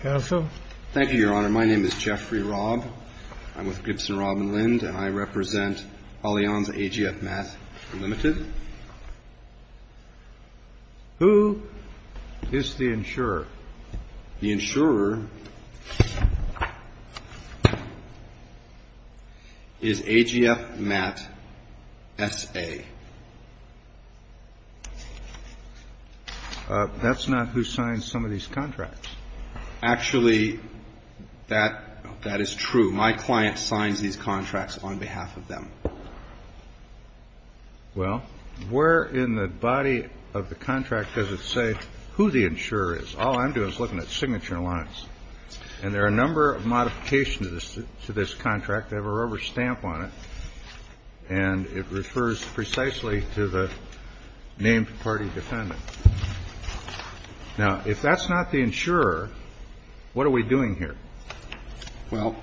Thank you, Your Honor. My name is Jeffrey Robb. I'm with Gibson, Robb & Lind, and I represent Allianz AGF MAT Ltd. Who is the insurer? The insurer is AGF MAT S.A. That's not who signs some of these contracts. Actually, that is true. My client signs these contracts on behalf of them. Well, where in the body of the contract does it say who the insurer is? All I'm doing is looking at signature lines. And there are a number of modifications to this contract. They have a rubber stamp on it, and it refers precisely to the named party defendant. Now, if that's not the insurer, what are we doing here? Well,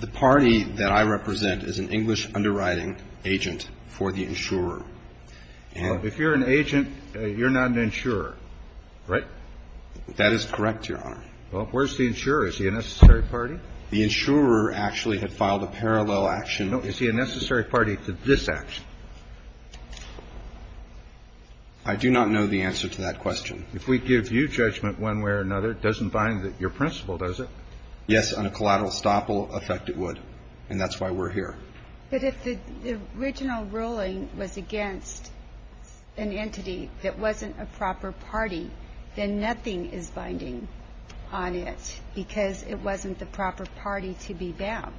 the party that I represent is an English underwriting agent for the insurer. If you're an agent, you're not an insurer, right? That is correct, Your Honor. Well, where's the insurer? Is he a necessary party? The insurer actually had filed a parallel action. No. Is he a necessary party to this action? I do not know the answer to that question. If we give you judgment one way or another, it doesn't bind your principle, does it? Yes. On a collateral stop, it will affect it would. And that's why we're here. But if the original ruling was against an entity that wasn't a proper party, then nothing is binding on it because it wasn't the proper party to be bound.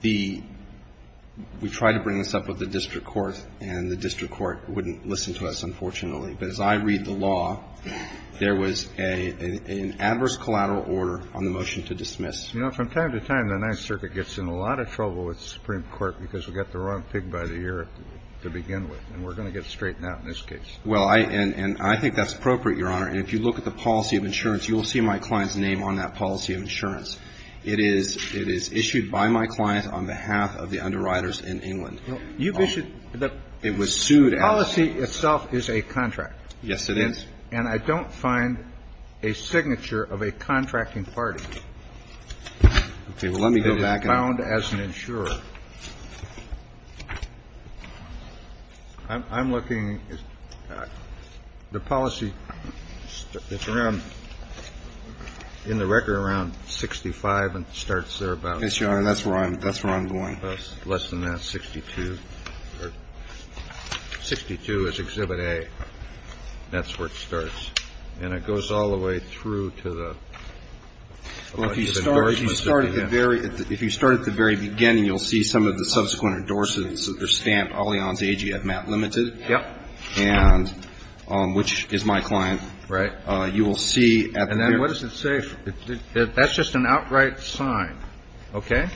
The we tried to bring this up with the district court, and the district court wouldn't listen to us, unfortunately. But as I read the law, there was an adverse collateral order on the motion to dismiss. You know, from time to time, the Ninth Circuit gets in a lot of trouble with the Supreme Court because we've got the wrong pig by the ear to begin with. And we're going to get straightened out in this case. Well, and I think that's appropriate, Your Honor. And if you look at the policy of insurance, you will see my client's name on that policy of insurance. It is issued by my client on behalf of the underwriters in England. You've issued the policy itself is a contract. Yes, it is. And I don't find a signature of a contracting party. Okay. Well, let me go back. It is bound as an insurer. I'm looking at the policy. It's around in the record around 65 and starts there about. Yes, Your Honor. That's where I'm going. Less than that, 62. 62 is Exhibit A. That's where it starts. And it goes all the way through to the. Well, if you start at the very beginning, you'll see some of the subsequent endorsements. They're stamped Allianz AG at Matt Limited. Yep. And which is my client. Right. You will see. And then what does it say? That's just an outright sign. Okay.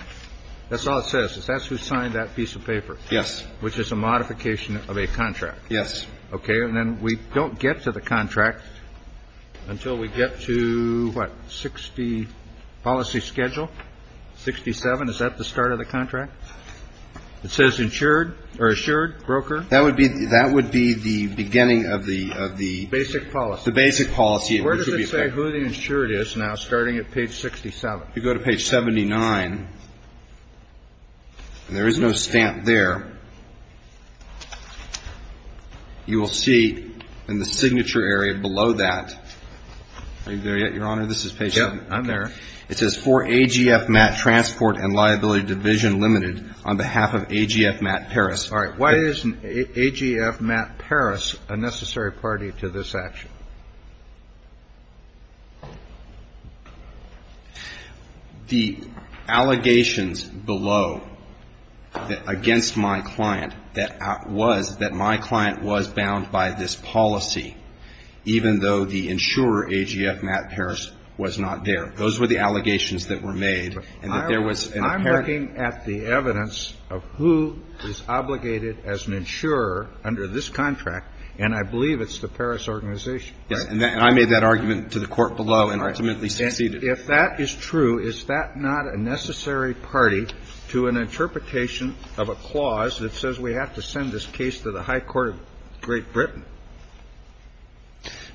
That's all it says. That's who signed that piece of paper. Yes. Which is a modification of a contract. Yes. Okay. And then we don't get to the contract until we get to what? 60 policy schedule. 67. Is that the start of the contract? It says insured or assured broker. That would be that would be the beginning of the of the basic policy. The basic policy. Where does it say who the insured is now? Starting at page 67. You go to page 79. And there is no stamp there. You will see in the signature area below that. Are you there yet, Your Honor? This is page. I'm there. It says for AGF Matt Transport and Liability Division Limited on behalf of AGF Matt Paris. All right. Why is AGF Matt Paris a necessary party to this action? The allegations below against my client that was that my client was bound by this policy, even though the insurer AGF Matt Paris was not there. Those were the allegations that were made. I'm looking at the evidence of who is obligated as an insurer under this contract, and I believe it's the Paris organization. And I made that argument to the court below and ultimately succeeded. If that is true, is that not a necessary party to an interpretation of a clause that says we have to send this case to the High Court of Great Britain?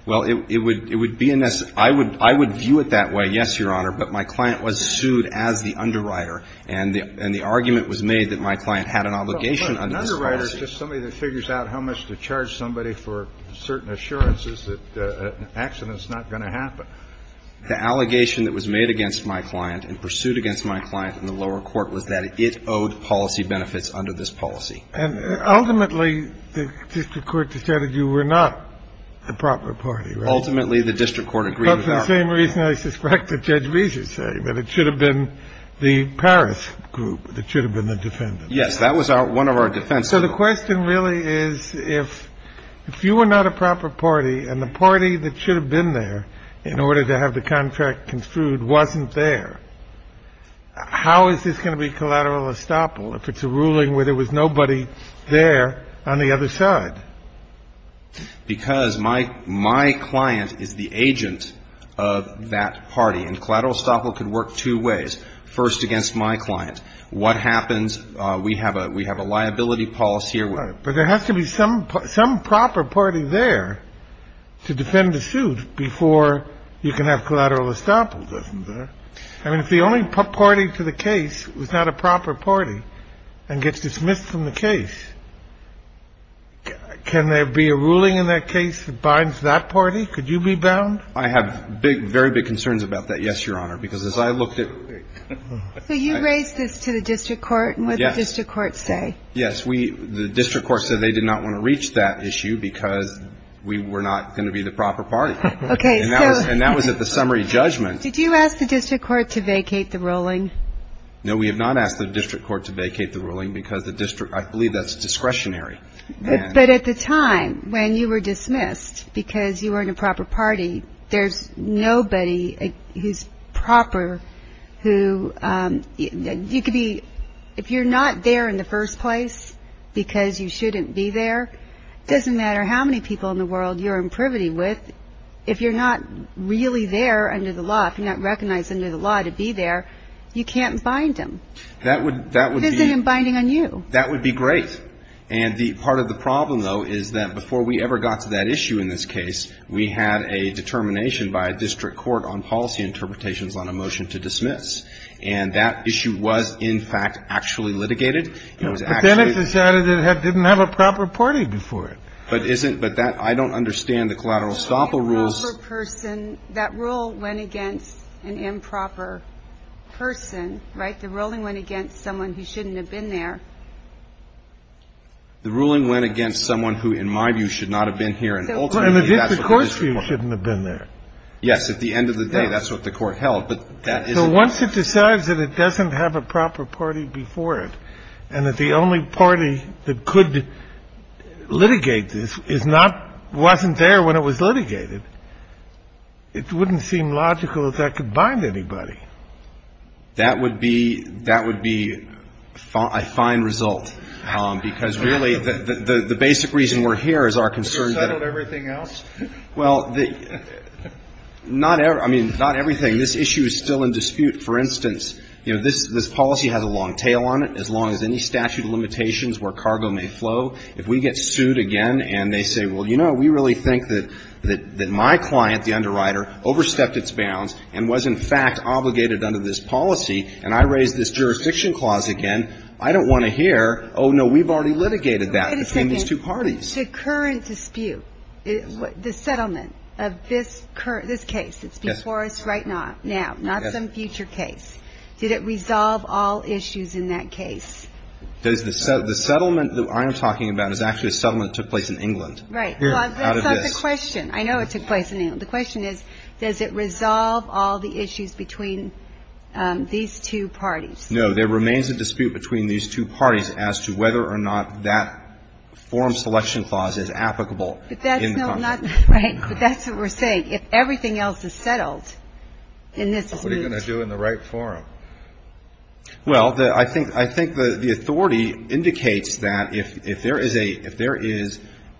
Well, it would be a necessary. I would view it that way, yes, Your Honor. But my client was sued as the underwriter, and the argument was made that my client had an obligation under this policy. An underwriter is just somebody that figures out how much to charge somebody for certain assurances that an accident is not going to happen. The allegation that was made against my client and pursued against my client in the lower court was that it owed policy benefits under this policy. And ultimately, the district court decided you were not the proper party, right? Ultimately, the district court agreed with that. That's the same reason I suspect that Judge Bezos said, that it should have been the Paris group that should have been the defendant. Yes. That was one of our defenses. So the question really is, if you were not a proper party and the party that should have been there in order to have the contract construed wasn't there, how is this going to be collateral estoppel if it's a ruling where there was nobody there on the other side? Because my client is the agent of that party, and collateral estoppel could work two ways. First, against my client. What happens? We have a liability policy here. But there has to be some proper party there to defend the suit before you can have collateral estoppel, doesn't there? I mean, if the only party to the case was not a proper party and gets dismissed from the case, can there be a ruling in that case that binds that party? Could you be bound? I have big, very big concerns about that, yes, Your Honor, because as I looked at the ---- So you raised this to the district court, and what did the district court say? Yes. The district court said they did not want to reach that issue because we were not going to be the proper party. Okay. And that was at the summary judgment. Did you ask the district court to vacate the ruling? No, we have not asked the district court to vacate the ruling because the district ---- I believe that's discretionary. But at the time when you were dismissed because you weren't a proper party, there's nobody who's proper who ---- You could be ---- If you're not there in the first place because you shouldn't be there, it doesn't matter how many people in the world you're in privity with, if you're not really there under the law, if you're not recognized under the law to be there, you can't bind them. That would be ---- Visiting and binding on you. That would be great. And the part of the problem, though, is that before we ever got to that issue in this case, we had a determination by a district court on policy interpretations on a motion to dismiss. And that issue was, in fact, actually litigated. It was actually ---- But then it decided it didn't have a proper party before it. But isn't ---- But that ---- I don't understand the collateral estoppel rules. An improper person, that rule went against an improper person. Right? The ruling went against someone who shouldn't have been there. The ruling went against someone who, in my view, should not have been here. And ultimately, that's what the district court ---- And the district court's view shouldn't have been there. Yes. At the end of the day, that's what the court held. But that isn't ---- So once it decides that it doesn't have a proper party before it and that the only party that could litigate this is not ---- wasn't there when it was litigated, it wouldn't seem logical that that could bind anybody. That would be ---- that would be a fine result, because really the basic reason we're here is our concern that ---- Have you settled everything else? Well, the ---- not every ---- I mean, not everything. This issue is still in dispute. For instance, you know, this policy has a long tail on it. As long as any statute of limitations where cargo may flow, if we get sued again and they say, well, you know, we really think that my client, the underwriter, overstepped its bounds and was, in fact, obligated under this policy, and I raised this jurisdiction clause again, I don't want to hear, oh, no, we've already litigated that between these two parties. Wait a second. The current dispute, the settlement of this current ---- this case that's before us right now, not some future case, did it resolve all issues in that case? The settlement that I am talking about is actually a settlement that took place in England. Here, out of this. Well, that's not the question. I know it took place in England. The question is, does it resolve all the issues between these two parties? So there remains a dispute between these two parties as to whether or not that forum selection clause is applicable in Congress. Right. But that's what we're saying. If everything else is settled, then this is moot. What are you going to do in the right forum? Well, I think the authority indicates that if there is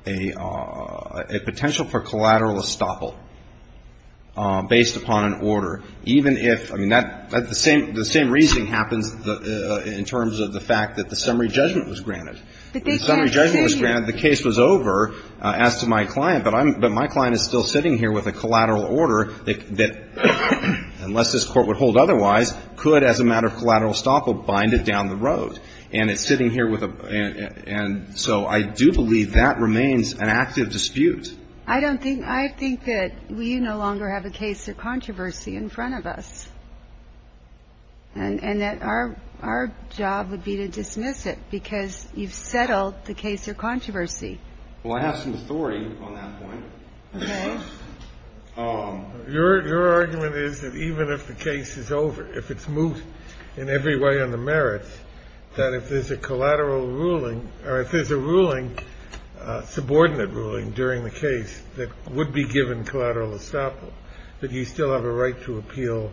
a potential for collateral estoppel based upon an order, even if ---- I mean, that's the same ---- the same reasoning happens in terms of the fact that the summary judgment was granted. The summary judgment was granted, the case was over, as to my client. But I'm ---- but my client is still sitting here with a collateral order that, unless this Court would hold otherwise, could, as a matter of collateral estoppel, bind it down the road. And it's sitting here with a ---- and so I do believe that remains an active dispute. I don't think ---- I think that we no longer have a case of controversy in front of us. And that our job would be to dismiss it because you've settled the case of controversy. Well, I have some authority on that point. Okay. Your argument is that even if the case is over, if it's moot in every way on the merits, that if there's a collateral ruling or if there's a ruling, subordinate ruling, during the case that would be given collateral estoppel, that you still have a right to appeal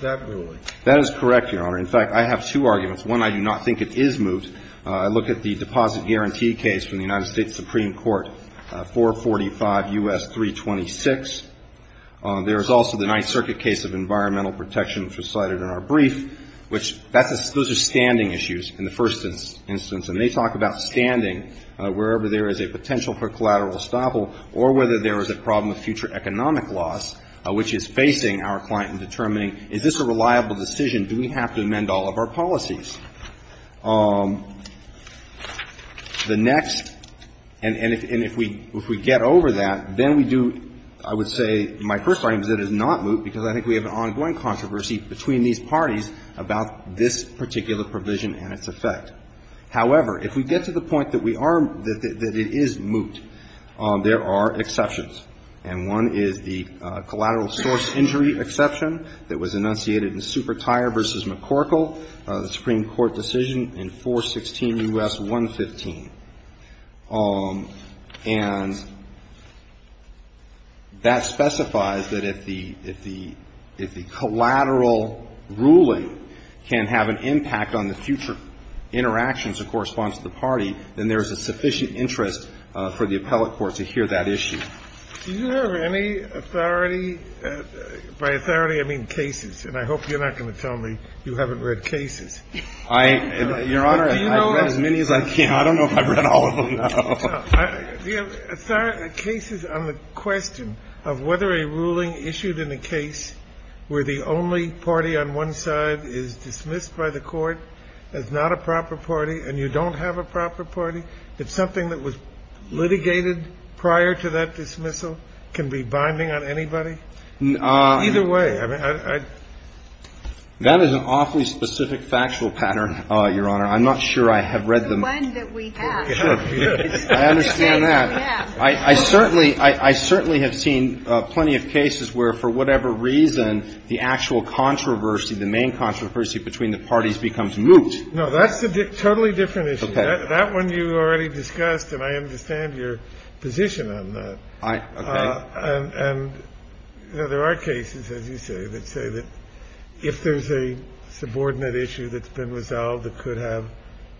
that ruling. That is correct, Your Honor. In fact, I have two arguments. One, I do not think it is moot. I look at the deposit guarantee case from the United States Supreme Court, 445 U.S. 326. There is also the Ninth Circuit case of environmental protection, which was cited in our brief, which that's a ---- those are standing issues in the first instance. And they talk about standing wherever there is a potential for collateral estoppel or whether there is a problem of future economic loss, which is facing our client in determining, is this a reliable decision? Do we have to amend all of our policies? The next ---- and if we get over that, then we do, I would say, my first argument is that it is not moot because I think we have an ongoing controversy between these parties about this particular provision and its effect. However, if we get to the point that we are ---- that it is moot, there are exceptions, and one is the collateral source injury exception that was enunciated in Supertire v. McCorkle, the Supreme Court decision in 416 U.S. 115. And that specifies that if the collateral ruling can have an impact on the future interactions that correspond to the party, then there is a sufficient interest for the appellate court to hear that issue. Do you have any authority? By authority, I mean cases. And I hope you're not going to tell me you haven't read cases. Your Honor, I've read as many as I can. I don't know if I've read all of them. No. No. Do you have cases on the question of whether a ruling issued in a case where the only party on one side is dismissed by the court as not a proper party and you don't have a proper party, if something that was litigated prior to that dismissal can be binding on anybody? Either way. I mean, I ---- That is an awfully specific factual pattern, Your Honor. I'm not sure I have read them. It's the one that we have. I understand that. I certainly have seen plenty of cases where for whatever reason the actual controversy, the main controversy between the parties becomes moot. No, that's a totally different issue. Okay. That one you already discussed, and I understand your position on that. Okay. And there are cases, as you say, that say that if there is a subordinate issue that's been resolved that could have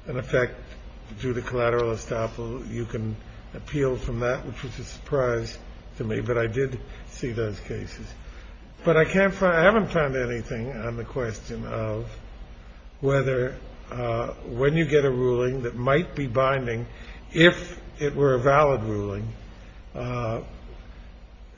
an effect due to collateral estoppel, you can appeal from that, which was a surprise to me. But I did see those cases. But I can't find ---- I haven't found anything on the question of whether when you get a ruling that might be binding if it were a valid ruling,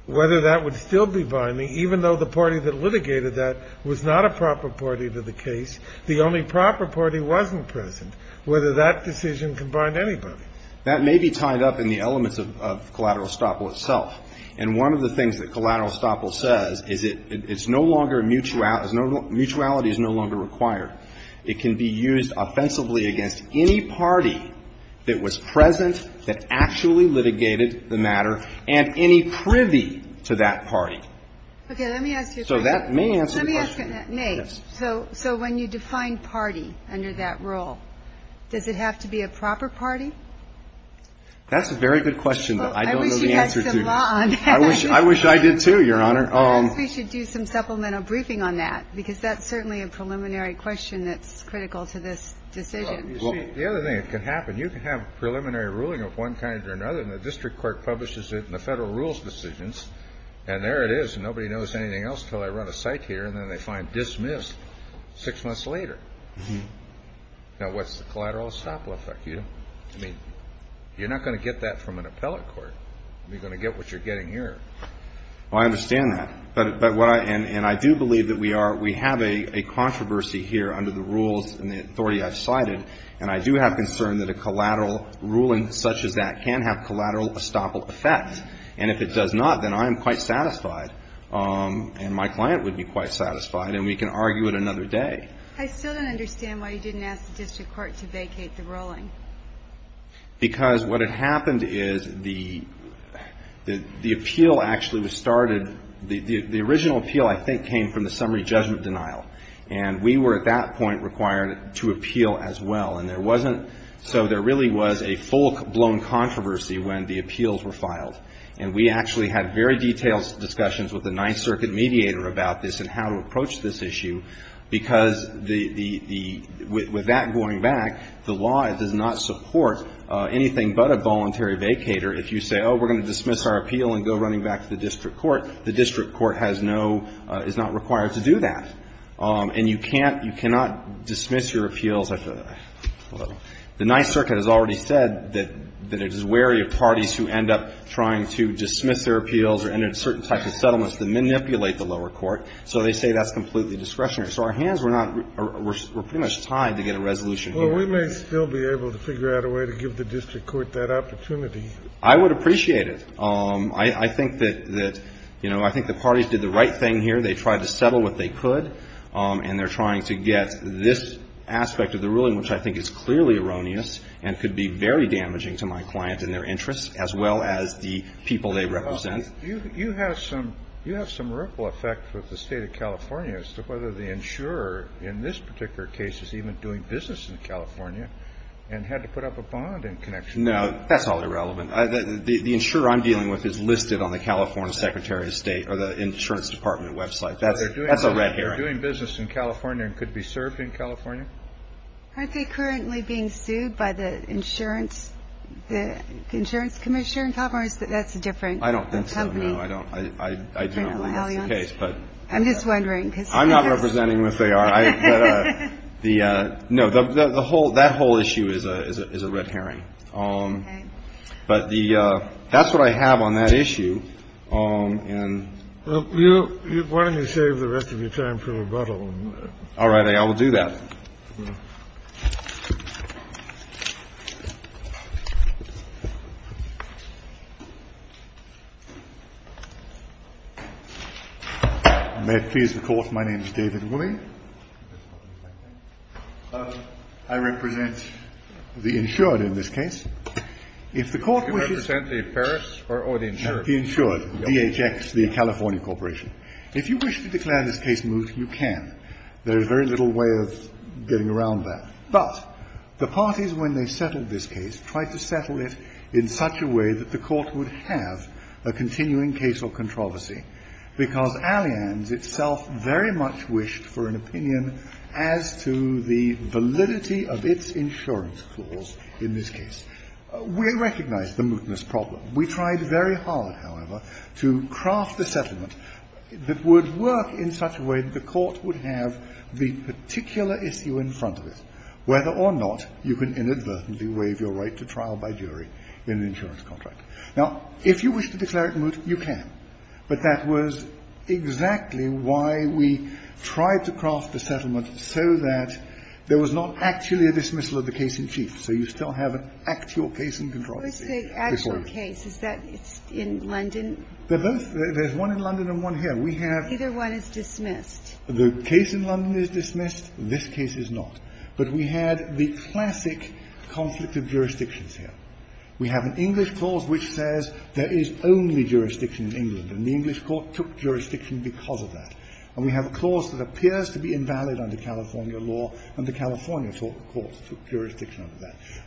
whether that would still be binding, even though the party that litigated that was not a proper party to the matter, the only proper party wasn't present, whether that decision could bind anybody. That may be tied up in the elements of collateral estoppel itself. And one of the things that collateral estoppel says is it's no longer a mutuality ---- mutuality is no longer required. It can be used offensively against any party that was present that actually litigated the matter and any privy to that party. Okay. Let me ask you a question. So that may answer the question. Let me ask it, Nate. Yes. So when you define party under that rule, does it have to be a proper party? That's a very good question, but I don't know the answer to it. I wish you had some law on that. I wish I did, too, Your Honor. Perhaps we should do some supplemental briefing on that, because that's certainly a preliminary question that's critical to this decision. Well, you see, the other thing that can happen, you can have a preliminary ruling of one kind or another, and the district court publishes it in the federal rules decisions, and there it is. Nobody knows anything else until I run a site here, and then they find dismissed six months later. Now, what's the collateral estoppel effect? I mean, you're not going to get that from an appellate court. You're going to get what you're getting here. Well, I understand that. And I do believe that we have a controversy here under the rules and the authority I've cited, and I do have concern that a collateral ruling such as that can have collateral estoppel effect. And if it does not, then I am quite satisfied, and my client would be quite satisfied, and we can argue it another day. I still don't understand why you didn't ask the district court to vacate the ruling. Because what had happened is the appeal actually was started. The original appeal, I think, came from the summary judgment denial, and we were at that point required to appeal as well. And there wasn't so there really was a full-blown controversy when the appeals were filed. And we actually had very detailed discussions with the Ninth Circuit mediator about this and how to approach this issue, because the the the with that going back, the law does not support anything but a voluntary vacater. If you say, oh, we're going to dismiss our appeal and go running back to the district court, the district court has no is not required to do that. And you can't you cannot dismiss your appeals. The Ninth Circuit has already said that it is wary of parties who end up trying to dismiss their appeals or enter certain types of settlements that manipulate the lower court. So they say that's completely discretionary. So our hands were not we're pretty much tied to get a resolution here. Kennedy. Well, we may still be able to figure out a way to give the district court that opportunity. I would appreciate it. I think that, you know, I think the parties did the right thing here. They tried to settle what they could. And they're trying to get this aspect of the ruling, which I think is clearly erroneous and could be very damaging to my client and their interests, as well as the people they represent. You have some you have some ripple effect with the state of California as to whether the insurer in this particular case is even doing business in California and had to put up a bond in connection. No, that's all irrelevant. The insurer I'm dealing with is listed on the California Secretary of State or the insurance department website. That's a red herring. So they're doing business in California and could be served in California? Aren't they currently being sued by the insurance? The insurance commission in California? That's a different company. I don't think so. No, I don't. I do not believe that's the case. I'm just wondering. I'm not representing them if they are. No, that whole issue is a red herring. Okay. But that's what I have on that issue. Well, why don't you save the rest of your time for rebuttal? All right. I will do that. May it please the Court. My name is David Willey. I represent the insured in this case. Do you represent the Paris or the insured? The insured. DHX, the California corporation. If you wish to declare this case moved, you can. There is very little way of getting around that. But the parties, when they settled this case, tried to settle it in such a way that the Court would have a continuing case or controversy, because Allianz itself very much wished for an opinion as to the validity of its insurance clause in this case. We recognize the mootness problem. We tried very hard, however, to craft a settlement that would work in such a way that the Court would have the particular issue in front of it, whether or not you can inadvertently waive your right to trial by jury in an insurance contract. Now, if you wish to declare it moot, you can. But that was exactly why we tried to craft a settlement so that there was not actually a dismissal of the case in chief. So you still have an actual case in controversy before you. The actual case, is that in London? They're both. There's one in London and one here. We have. Either one is dismissed. The case in London is dismissed. This case is not. But we had the classic conflict of jurisdictions here. We have an English clause which says there is only jurisdiction in England, and the English Court took jurisdiction because of that. And we have a clause that appears to be invalid under California law under California.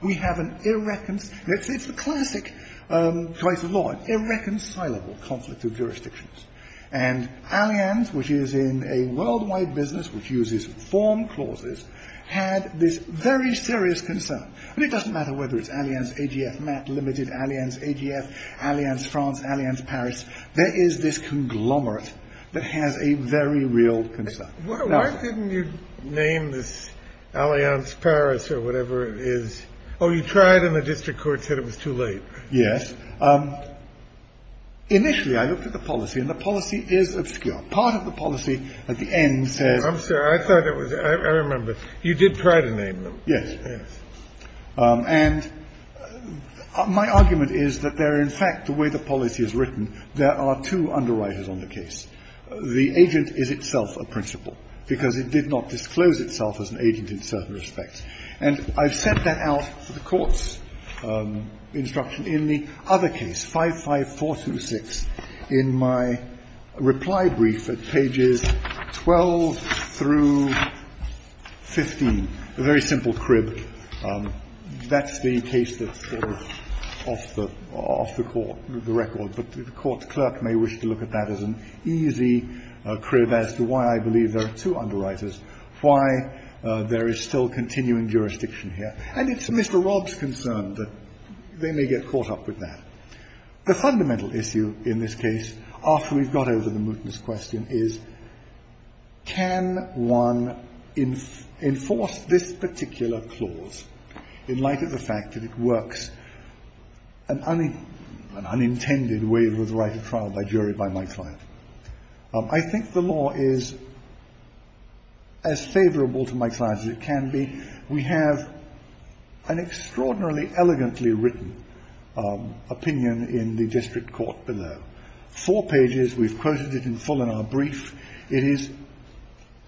We have an irreconcilable conflict of jurisdictions. And Allianz, which is in a worldwide business which uses form clauses, had this very serious concern. And it doesn't matter whether it's Allianz AGF, Matt Limited, Allianz AGF, Allianz France, Allianz Paris. There is this conglomerate that has a very real concern. Why didn't you name this Allianz Paris or whatever it is? Oh, you tried, and the district court said it was too late. Yes. Initially, I looked at the policy, and the policy is obscure. Part of the policy at the end says. I'm sorry. I thought it was. I remember. You did try to name them. Yes. Yes. And my argument is that they're in fact the way the policy is written. There are two underwriters on the case. The agent is itself a principle, because it did not disclose itself as an agent in certain respects. And I've set that out for the court's instruction in the other case, 55426, in my reply brief at pages 12 through 15, a very simple crib. That's the case that's sort of off the court, the record. But the court's clerk may wish to look at that as an easy crib as to why I believe there are two underwriters, why there is still continuing jurisdiction here. And it's Mr. Rob's concern that they may get caught up with that. The fundamental issue in this case, after we've got over the mootness question, is can one enforce this particular clause in light of the fact that it works an unintended way to the right of trial by jury by Mike Fyatt. I think the law is as favorable to Mike Fyatt as it can be. We have an extraordinarily elegantly written opinion in the district court below. Four pages. We've quoted it in full in our brief. It is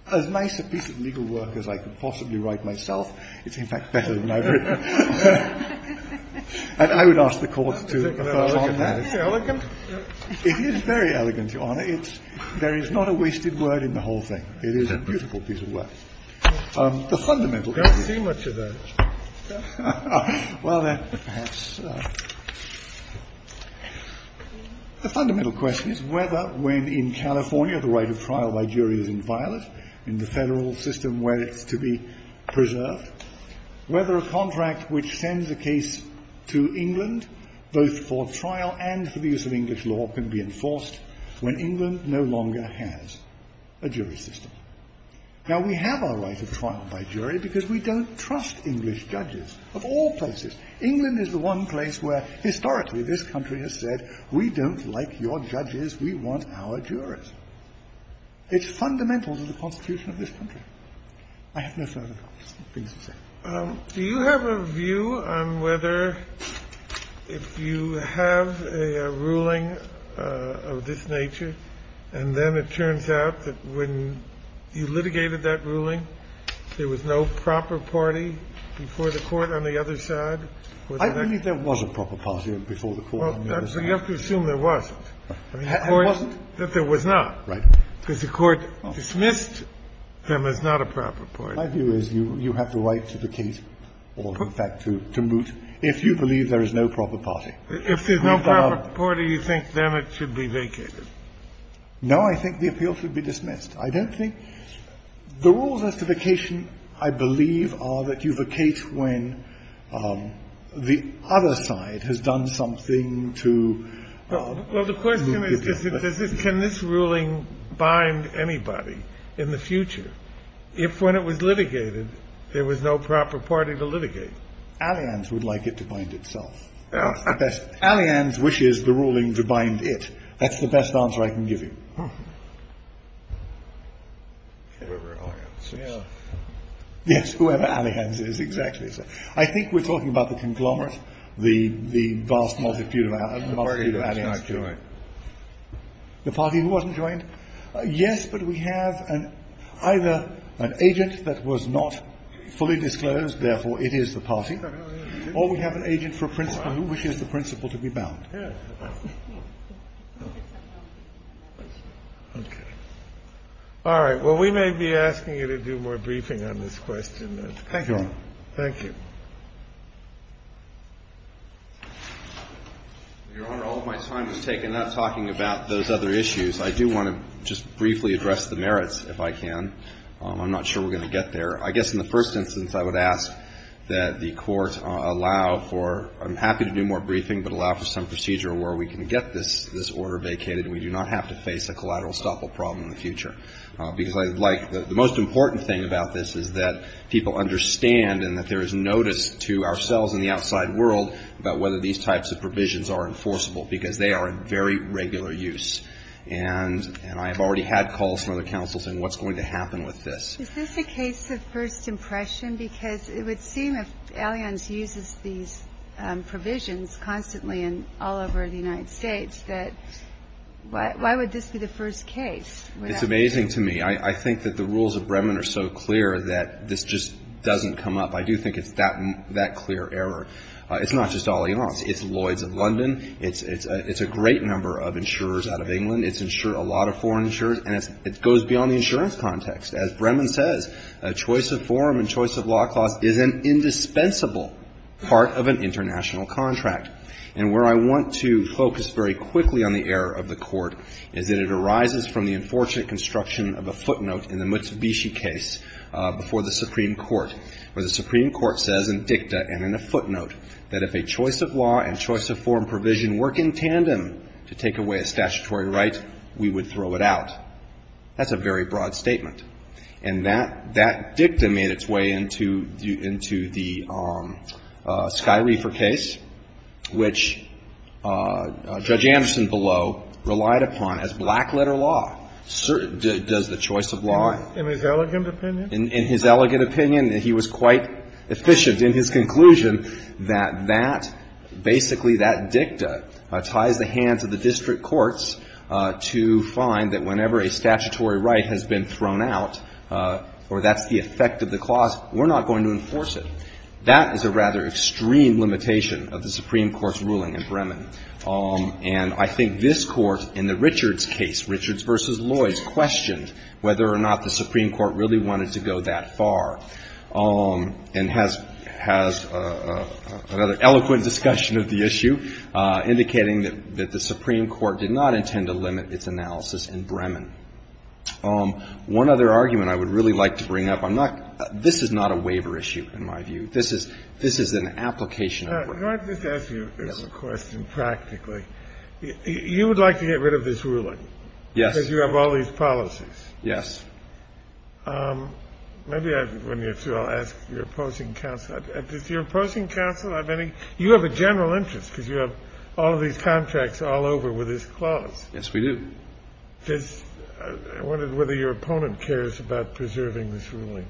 as nice a piece of legal work as I could possibly write myself. It's in fact better than I've written. And I would ask the court to confirm that. It is very elegant, Your Honor. There is not a wasted word in the whole thing. It is a beautiful piece of work. The fundamental issue. I don't see much of that. Well, then, perhaps. The fundamental question is whether when in California the right of trial by jury is inviolate in the Federal system where it's to be preserved, whether a contract which sends a case to England both for trial and for the use of English law can be enforced when England no longer has a jury system. Now, we have our right of trial by jury because we don't trust English judges of all places. England is the one place where historically this country has said we don't like your judges. We want our jurors. It's fundamental to the Constitution of this country. I have no further comments. Do you have a view on whether if you have a ruling of this nature and then it turns out that when you litigated that ruling, there was no proper party before the court on the other side? I don't think there was a proper party before the court on the other side. Well, you have to assume there wasn't. There wasn't? That there was not. Right. Because the court dismissed them as not a proper party. My view is you have the right to vacate or, in fact, to moot if you believe there is no proper party. If there's no proper party, you think then it should be vacated? No, I think the appeal should be dismissed. I don't think – the rules as to vacation, I believe, are that you vacate when the other side has done something to – Well, the question is can this ruling bind anybody in the future if when it was litigated there was no proper party to litigate? Allianz would like it to bind itself. Allianz wishes the ruling to bind it. That's the best answer I can give you. Whoever Allianz is. Yes, whoever Allianz is, exactly. I think we're talking about the conglomerate, the vast multitude of Allianz. The party that's not joined. The party that wasn't joined? Yes, but we have either an agent that was not fully disclosed, therefore it is the party, or we have an agent for a principal who wishes the principal to be bound. All right. Well, we may be asking you to do more briefing on this question. Thank you, Your Honor. Thank you. Your Honor, all of my time was taken not talking about those other issues. I do want to just briefly address the merits, if I can. I'm not sure we're going to get there. I guess in the first instance, I would ask that the Court allow for – I'm happy to do more briefing, but allow for some procedure where we can get this order vacated and we do not have to face a collateral estoppel problem in the future. Because I'd like – the most important thing about this is that people understand and that there is notice to ourselves and the outside world about whether these types of provisions are enforceable, because they are in very regular use. And I have already had calls from other counsels saying, what's going to happen with this? Is this a case of first impression? Because it would seem if Allianz uses these provisions constantly all over the United States, that why would this be the first case? It's amazing to me. I think that the rules of Bremen are so clear that this just doesn't come up. I do think it's that clear error. It's not just Allianz. It's Lloyd's of London. It's a great number of insurers out of England. It's insured a lot of foreign insurers. And it goes beyond the insurance context. As Bremen says, choice of form and choice of law clause is an indispensable part of an international contract. And where I want to focus very quickly on the error of the Court is that it arises from the unfortunate construction of a footnote in the Mitsubishi case before the Supreme Court, where the Supreme Court says in dicta and in a footnote that if a choice of law and choice of form provision work in tandem to take away a statutory right, we would throw it out. That's a very broad statement. And that dicta made its way into the SkyReefer case, which Judge Anderson below relied upon as black-letter law, does the choice of law. In his elegant opinion? In his elegant opinion, he was quite efficient in his conclusion that that, basically, that dicta ties the hands of the district courts to find that whenever a statutory right has been thrown out, or that's the effect of the clause, we're not going to enforce it. That is a rather extreme limitation of the Supreme Court's ruling in Bremen. And I think this Court, in the Richards case, Richards v. Lloyds, questioned whether or not the Supreme Court really wanted to go that far, and has another eloquent discussion of the issue, indicating that the Supreme Court did not intend to limit its analysis in Bremen. One other argument I would really like to bring up. I'm not – this is not a waiver issue, in my view. This is an application. Can I just ask you this question practically? You would like to get rid of this ruling? Yes. Because you have all these policies. Yes. Maybe when you're through, I'll ask your opposing counsel. Does your opposing counsel have any – you have a general interest, because you have all of these contracts all over with this clause. Yes, we do. I wondered whether your opponent cares about preserving this ruling.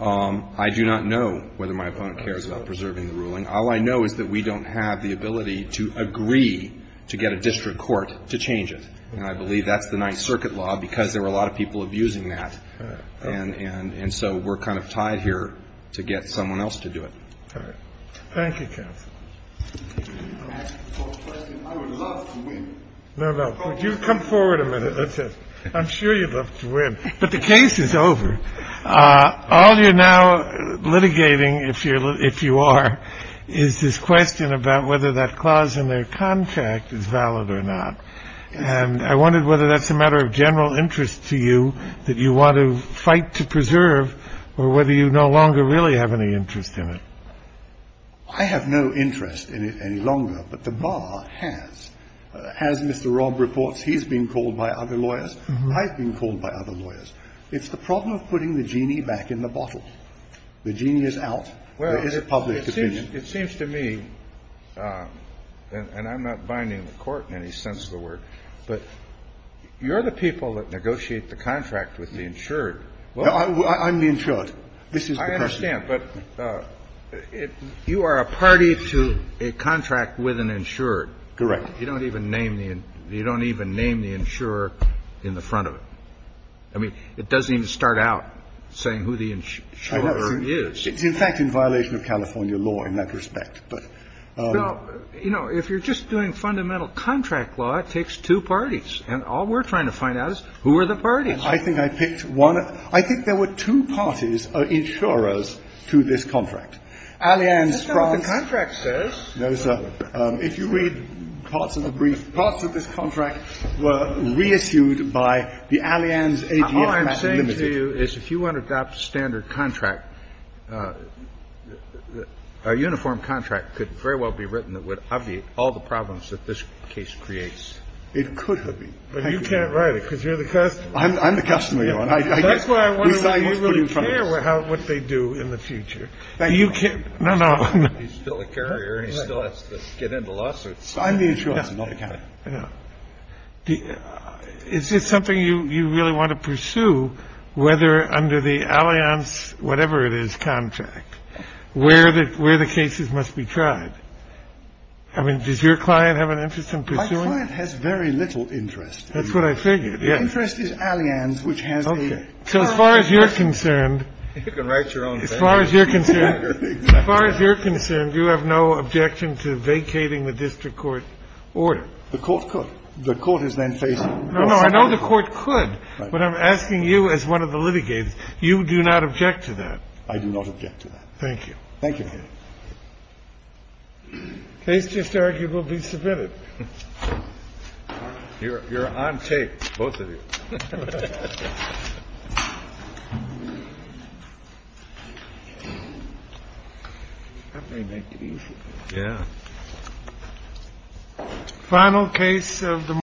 I do not know whether my opponent cares about preserving the ruling. All I know is that we don't have the ability to agree to get a district court to change it. And I believe that's the Ninth Circuit law, because there were a lot of people abusing that. And so we're kind of tied here to get someone else to do it. All right. Thank you, counsel. Can I ask a follow-up question? I would love to win. No, no. Would you come forward a minute? That's it. I'm sure you'd love to win. But the case is over. All you're now litigating, if you are, is this question about whether that clause in their contract is valid or not. And I wondered whether that's a matter of general interest to you, that you want to fight to preserve, or whether you no longer really have any interest in it. I have no interest in it any longer. But the bar has. As Mr. Robb reports, he's been called by other lawyers. I've been called by other lawyers. It's the problem of putting the genie back in the bottle. The genie is out. There is a public opinion. It seems to me, and I'm not binding the Court in any sense of the word, but you're the people that negotiate the contract with the insured. I'm the insured. This is the person. I understand. But you are a party to a contract with an insured. Correct. You don't even name the insurer in the front of it. I mean, it doesn't even start out saying who the insurer is. It's in fact in violation of California law in that respect. Well, you know, if you're just doing fundamental contract law, it takes two parties. And all we're trying to find out is who are the parties. I think I picked one. I think there were two parties, insurers, to this contract. Allianz, France. That's not what the contract says. No, sir. If you read parts of the brief, parts of this contract were reissued by the Allianz AGF-PAC Limited. What I'm saying to you is if you want to adopt a standard contract, a uniform contract could very well be written that would obviate all the problems that this case creates. It could have been. But you can't write it because you're the customer. I'm the customer. That's why I want to know what they do in the future. Now, you can't. No, no. He's still a carrier. He still has to get into lawsuits. I'm the insurer. I'm not the accountant. I don't know. It's just something you really want to pursue whether under the Allianz, whatever it is, contract, where the cases must be tried. I mean, does your client have an interest in pursuing it? My client has very little interest. That's what I figured. The interest is Allianz, which has the. Okay. So as far as you're concerned. You can write your own thing. As far as you're concerned. As far as you're concerned, you have no objection to vacating the district court order. The court could. The court is then facing. No, no. I know the court could. But I'm asking you as one of the litigates. You do not object to that. I do not object to that. Thank you. Thank you. Case just arguably submitted. You're on tape. Both of you. Thank you. Yeah. Final case of the.